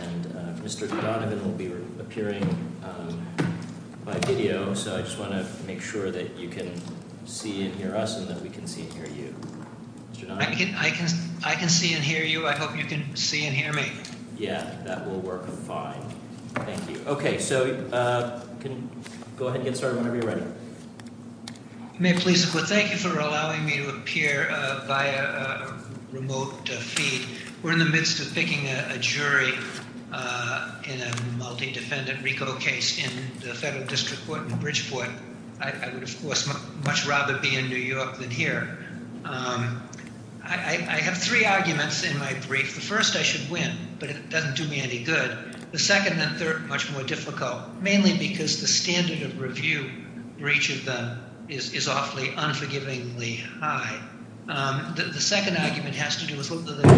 and Mr. Donovan will be appearing by video, so I just want to make sure that you can see and hear us and that we can see and hear you. I can see and hear you. I hope you can see and hear me. Yeah. That will work fine. Thank you. Okay. So, go ahead and get started whenever you're ready. May I please, well, thank you for allowing me to appear via remote feed. We're in the midst of picking a jury in a multi-defendant RICO case in the federal district court in Bridgeport. I would, of course, much rather be in New York than here. I have three arguments in my brief. The first, I should win, but it doesn't do me any good. The second and third are much more difficult, mainly because the standard of review for each of them is awfully unforgivingly high. The second argument has to do with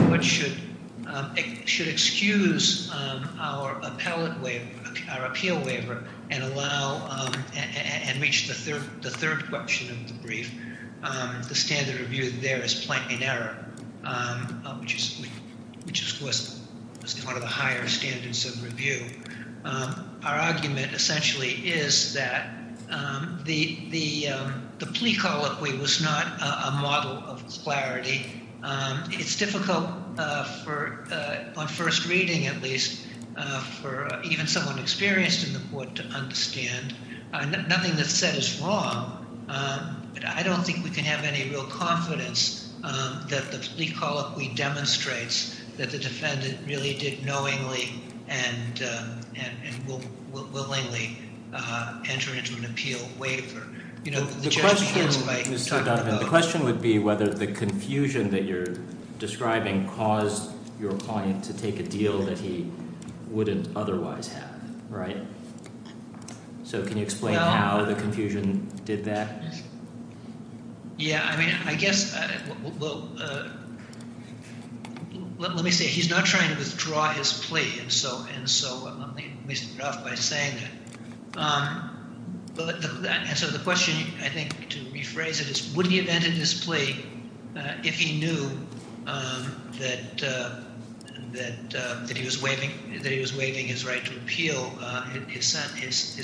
what should excuse our appellate waiver, our appeal waiver, and allow, and reach the third question of the brief. The standard of review there is plain in error, which is, which is, of course, one of the higher standards of review. Our argument essentially is that the plea colloquy was not a model of clarity. It's difficult for, on first reading at least, for even someone experienced in the court to understand. Nothing that's said is wrong, but I don't think we can have any real confidence that the plea colloquy demonstrates that the defendant really did knowingly and willingly enter into an appeal waiver. You know, the judge begins by talking about- The question would be whether the confusion that you're describing caused your client to take a deal that he wouldn't otherwise have, right? So, can you explain how the confusion did that? Yeah, I mean, I guess, well, let me say, he's not trying to withdraw his plea, and so, let me start off by saying that, and so the question, I think, to rephrase it is, would he have submitted his plea if he knew that he was waiving his right to appeal his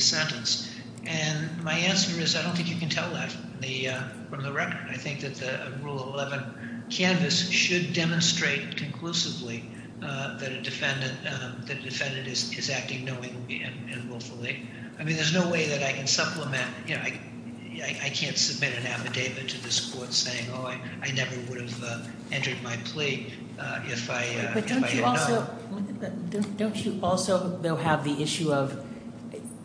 sentence? And my answer is, I don't think you can tell that from the record. I think that the Rule 11 canvass should demonstrate conclusively that a defendant is acting knowingly and willfully. I mean, there's no way that I can supplement, you know, I can't submit an affidavit to this court saying, oh, I never would have entered my plea if I had not. But don't you also, though, have the issue of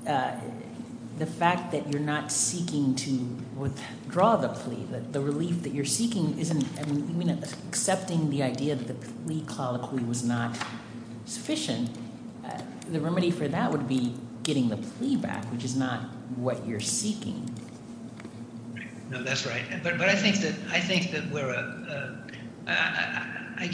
the fact that you're not seeking to withdraw the plea, that the relief that you're seeking isn't, I mean, accepting the idea that the plea colloquy was not sufficient, the remedy for that would be getting the plea back, which is not what you're seeking. No, that's right. But I think that we're, I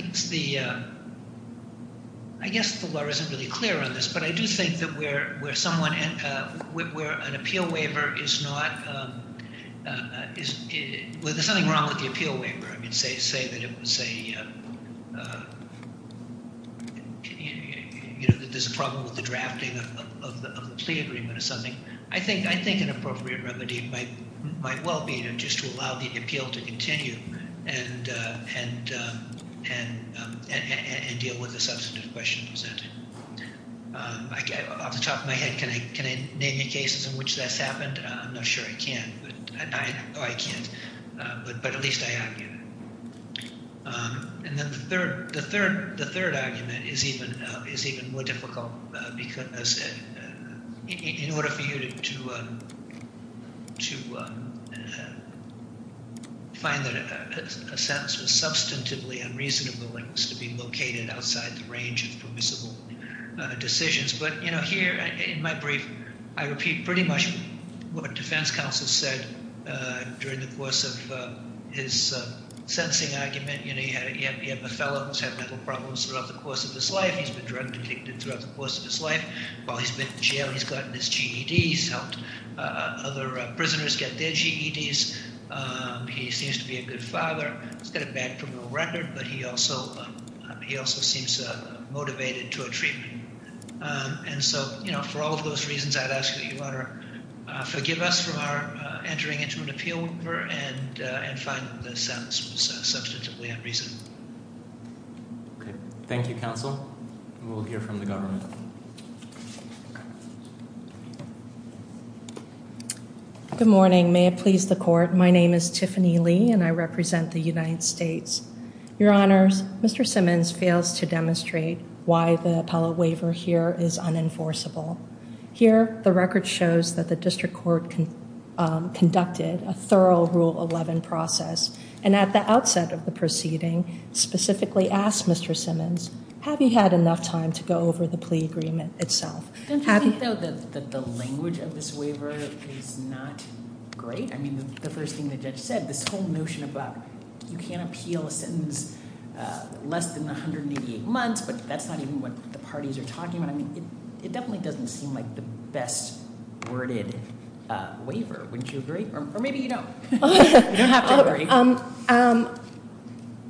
guess the law isn't really clear on this, but I do think that where someone, where an appeal waiver is not, well, there's something wrong with the appeal and, you know, there's a problem with the drafting of the plea agreement or something. I think an appropriate remedy might well be, you know, just to allow the appeal to continue and deal with the substantive question presented. Off the top of my head, can I name any cases in which that's happened? I'm not sure I can, but, oh, I can't. But at least I argue that. And then the third, the third, the third argument is even, is even more difficult because in order for you to, to find that a sentence was substantively unreasonable, it was to be located outside the range of permissible decisions. But, you know, here in my brief, I repeat pretty much what defense counsel said during the course of his sentencing argument. You know, you have, you have a fellow who's had mental problems throughout the course of his life. He's been drug addicted throughout the course of his life. While he's been in jail, he's gotten his GEDs, helped other prisoners get their GEDs. He seems to be a good father. He's got a bad criminal record, but he also, he also seems motivated to a treatment. And so, you know, for all of those reasons, I'd ask that you honor, forgive us for our getting into an appeal and find the sentence was substantively unreasonable. Okay. Thank you, counsel. And we'll hear from the government. Good morning. May it please the court. My name is Tiffany Lee and I represent the United States. Your honors, Mr. Simmons fails to demonstrate why the appellate waiver here is unenforceable. Here, the record shows that the district court conducted a thorough rule 11 process. And at the outset of the proceeding, specifically asked Mr. Simmons, have you had enough time to go over the plea agreement itself? Don't you think though that the language of this waiver is not great? I mean, the first thing the judge said, this whole notion about you can't appeal a sentence less than 188 months, but that's not even what the parties are talking about. I mean, it definitely doesn't seem like the best worded waiver. Wouldn't you agree? Or maybe you don't. You don't have to agree.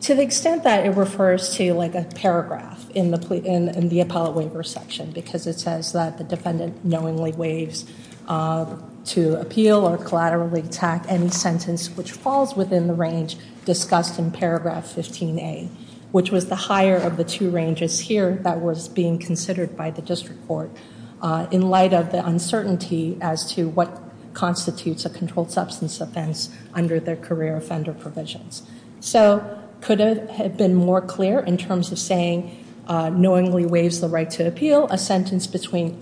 To the extent that it refers to like a paragraph in the appellate waiver section, because it says that the defendant knowingly waives to appeal or collaterally attack any sentence, which falls within the range discussed in paragraph 15A, which was the higher of the two ranges here that was being considered by the district court in light of the uncertainty as to what constitutes a controlled substance offense under the career offender provisions. So could it have been more clear in terms of saying knowingly waives the right to appeal a sentence between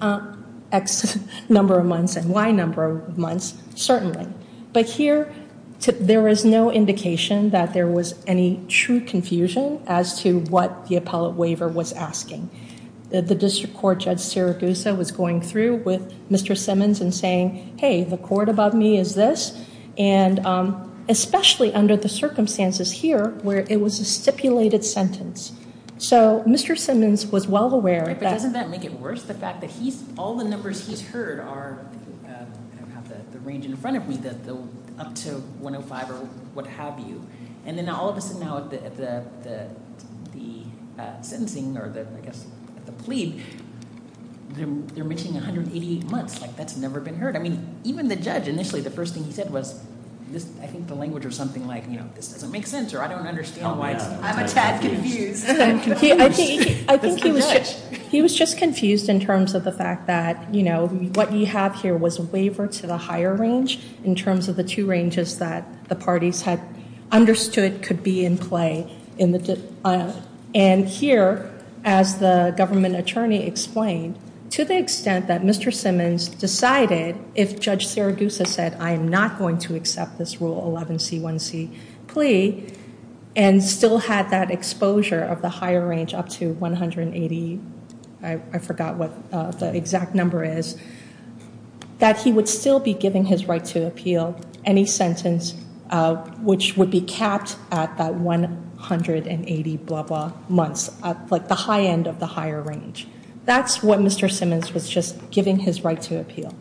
X number of months and Y number of months? Certainly. But here, there is no indication that there was any true confusion as to what the appellate waiver was asking. The district court judge Siragusa was going through with Mr. Simmons and saying, hey, the court above me is this. And especially under the circumstances here where it was a stipulated sentence. So Mr. Simmons was well aware. But doesn't that make it worse, the fact that all the numbers he's heard are, I don't have the range in front of me, up to 105 or what have you. And then all of a sudden now at the sentencing or I guess at the plea, they're mentioning 188 months. Like that's never been heard. I mean even the judge initially, the first thing he said was, I think the language was something like this doesn't make sense or I don't understand why. I'm a tad confused. I think he was just confused in terms of the fact that, you know, what you have here was a waiver to the higher range in terms of the two ranges that the parties had understood could be in play. And here, as the government attorney explained, to the extent that Mr. Simmons decided if Judge Siragusa said I am not going to the higher range up to 180, I forgot what the exact number is, that he would still be giving his right to appeal any sentence which would be capped at that 180 blah blah months, like the high end of the higher range. That's what Mr. Simmons was just giving his right to appeal.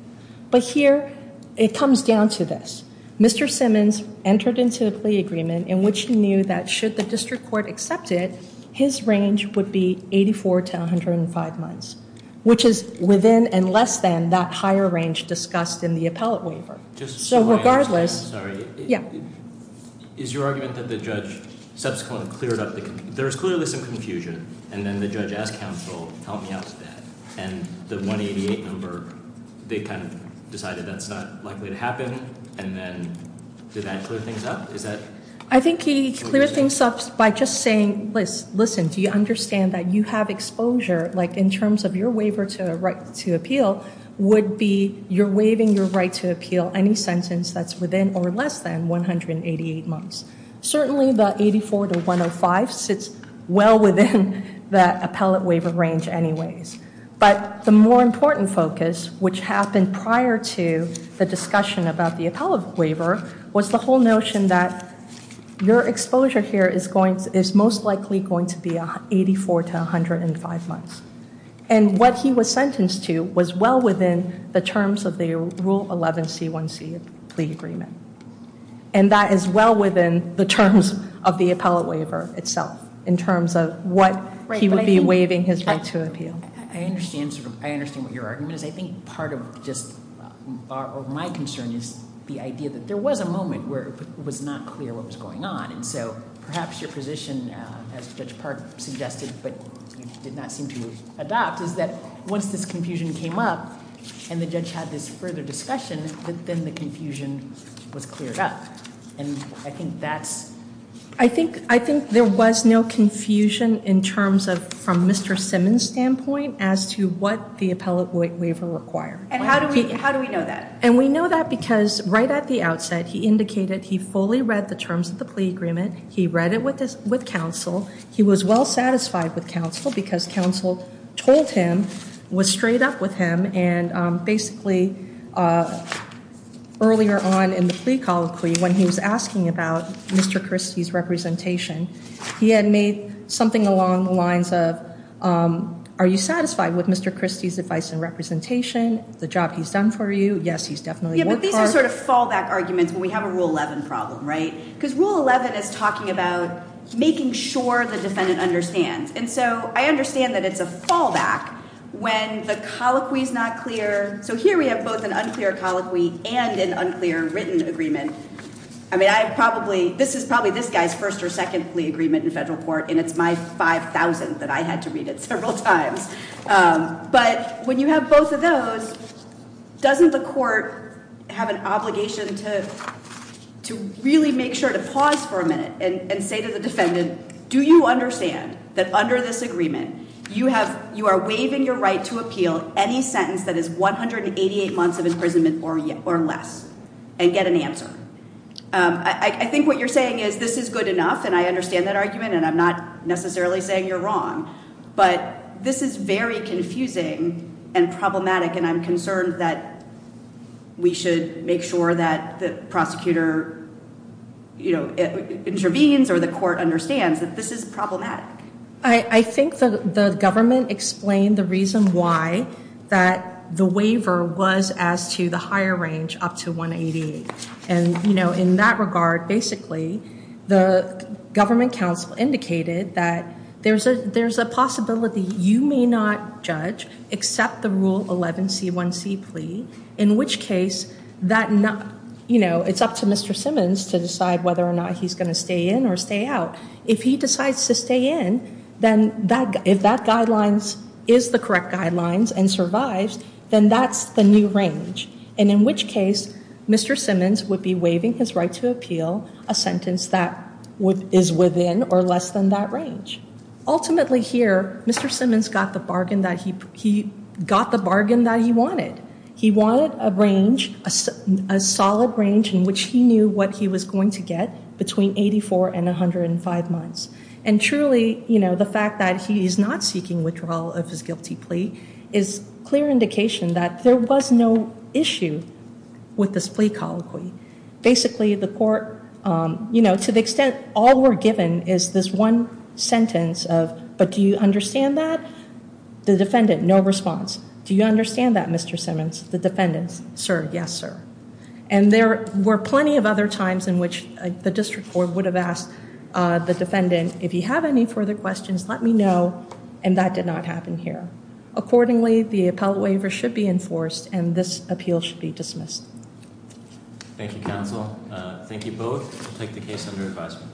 But here it comes down to this. Mr. Simmons entered into a plea agreement in which he knew that should the his range would be 84 to 105 months, which is within and less than that higher range discussed in the appellate waiver. So regardless. Yeah. Is your argument that the judge subsequently cleared up? There is clearly some confusion. And then the judge asked counsel, help me out with that. And the 188 number, they kind of decided that's not likely to happen. And then did that clear things up? I think he cleared things up by just saying, listen, do you understand that you have exposure, like in terms of your waiver to appeal would be you're waiving your right to appeal any sentence that's within or less than 188 months. Certainly the 84 to 105 sits well within that appellate waiver range anyways. But the more important focus, which happened prior to the discussion about the appellate waiver, was the whole notion that your exposure here is most likely going to be 84 to 105 months. And what he was sentenced to was well within the terms of the rule 11C1C plea agreement. And that is well within the terms of the appellate waiver itself in terms of what he would be waiving his right to appeal. I understand what your argument is. I think part of just my concern is the idea that there was a moment where it was not clear what was going on. And so perhaps your position, as Judge Park suggested, but you did not seem to adopt, is that once this confusion came up and the judge had this further discussion, that then the confusion was cleared up. And I think that's- I think there was no confusion in terms of, from Mr. Simmons' standpoint, as to what the appellate waiver required. And how do we know that? And we know that because right at the outset, he indicated he fully read the terms of the plea agreement. He read it with counsel. He was well satisfied with counsel because counsel told him, was straight up with him, and basically, earlier on in the plea colloquy, when he was asking about Mr. Christie's representation, he had made something along the lines of, are you satisfied with Mr. Christie's advice and representation, the job he's done for you? Yes, he's definitely worked for- Yeah, but these are sort of fallback arguments when we have a Rule 11 problem, right? Because Rule 11 is talking about making sure the defendant understands. And so I understand that it's a fallback when the colloquy is not clear. So here we have both an unclear colloquy and an unclear written agreement. I mean, this is probably this guy's first or second plea agreement in federal court, and it's my 5,000th that I had to read it several times. But when you have both of those, doesn't the court have an obligation to really make sure to pause for a minute and say to the defendant, do you understand that under this agreement, you are waiving your right to appeal any sentence that is 188 months of imprisonment or less and get an answer? I think what you're saying is this is good enough, and I understand that argument, and I'm not necessarily saying you're wrong, but this is very confusing and problematic, and I'm concerned that we should make sure that the prosecutor intervenes or the court understands that this is problematic. I think the government explained the reason why that the waiver was as to the higher range up to 188. And in that regard, basically, the government counsel indicated that there's a possibility you may not judge except the Rule 11C1C plea, in which case it's up to Mr. Simmons to decide whether or not he's going to stay in or stay out. If he decides to stay in, then if that guidelines is the correct guidelines and survives, then that's the new range, and in which case Mr. Simmons would be waiving his right to appeal a sentence that is within or less than that range. Ultimately here, Mr. Simmons got the bargain that he wanted. He wanted a range, a solid range in which he knew what he was going to get between 84 and 105 months. And truly, you know, the fact that he's not seeking withdrawal of his guilty plea is clear indication that there was no issue with this plea colloquy. Basically, the court, you know, to the extent all we're given is this one sentence of, but do you understand that? The defendant, no response. Do you understand that, Mr. Simmons? The defendant, sir, yes, sir. And there were plenty of other times in which the district court would have asked the defendant, if you have any further questions, let me know, and that did not happen here. Accordingly, the appellate waiver should be enforced, and this appeal should be dismissed. Thank you, counsel. Thank you both. We'll take the case under advisement.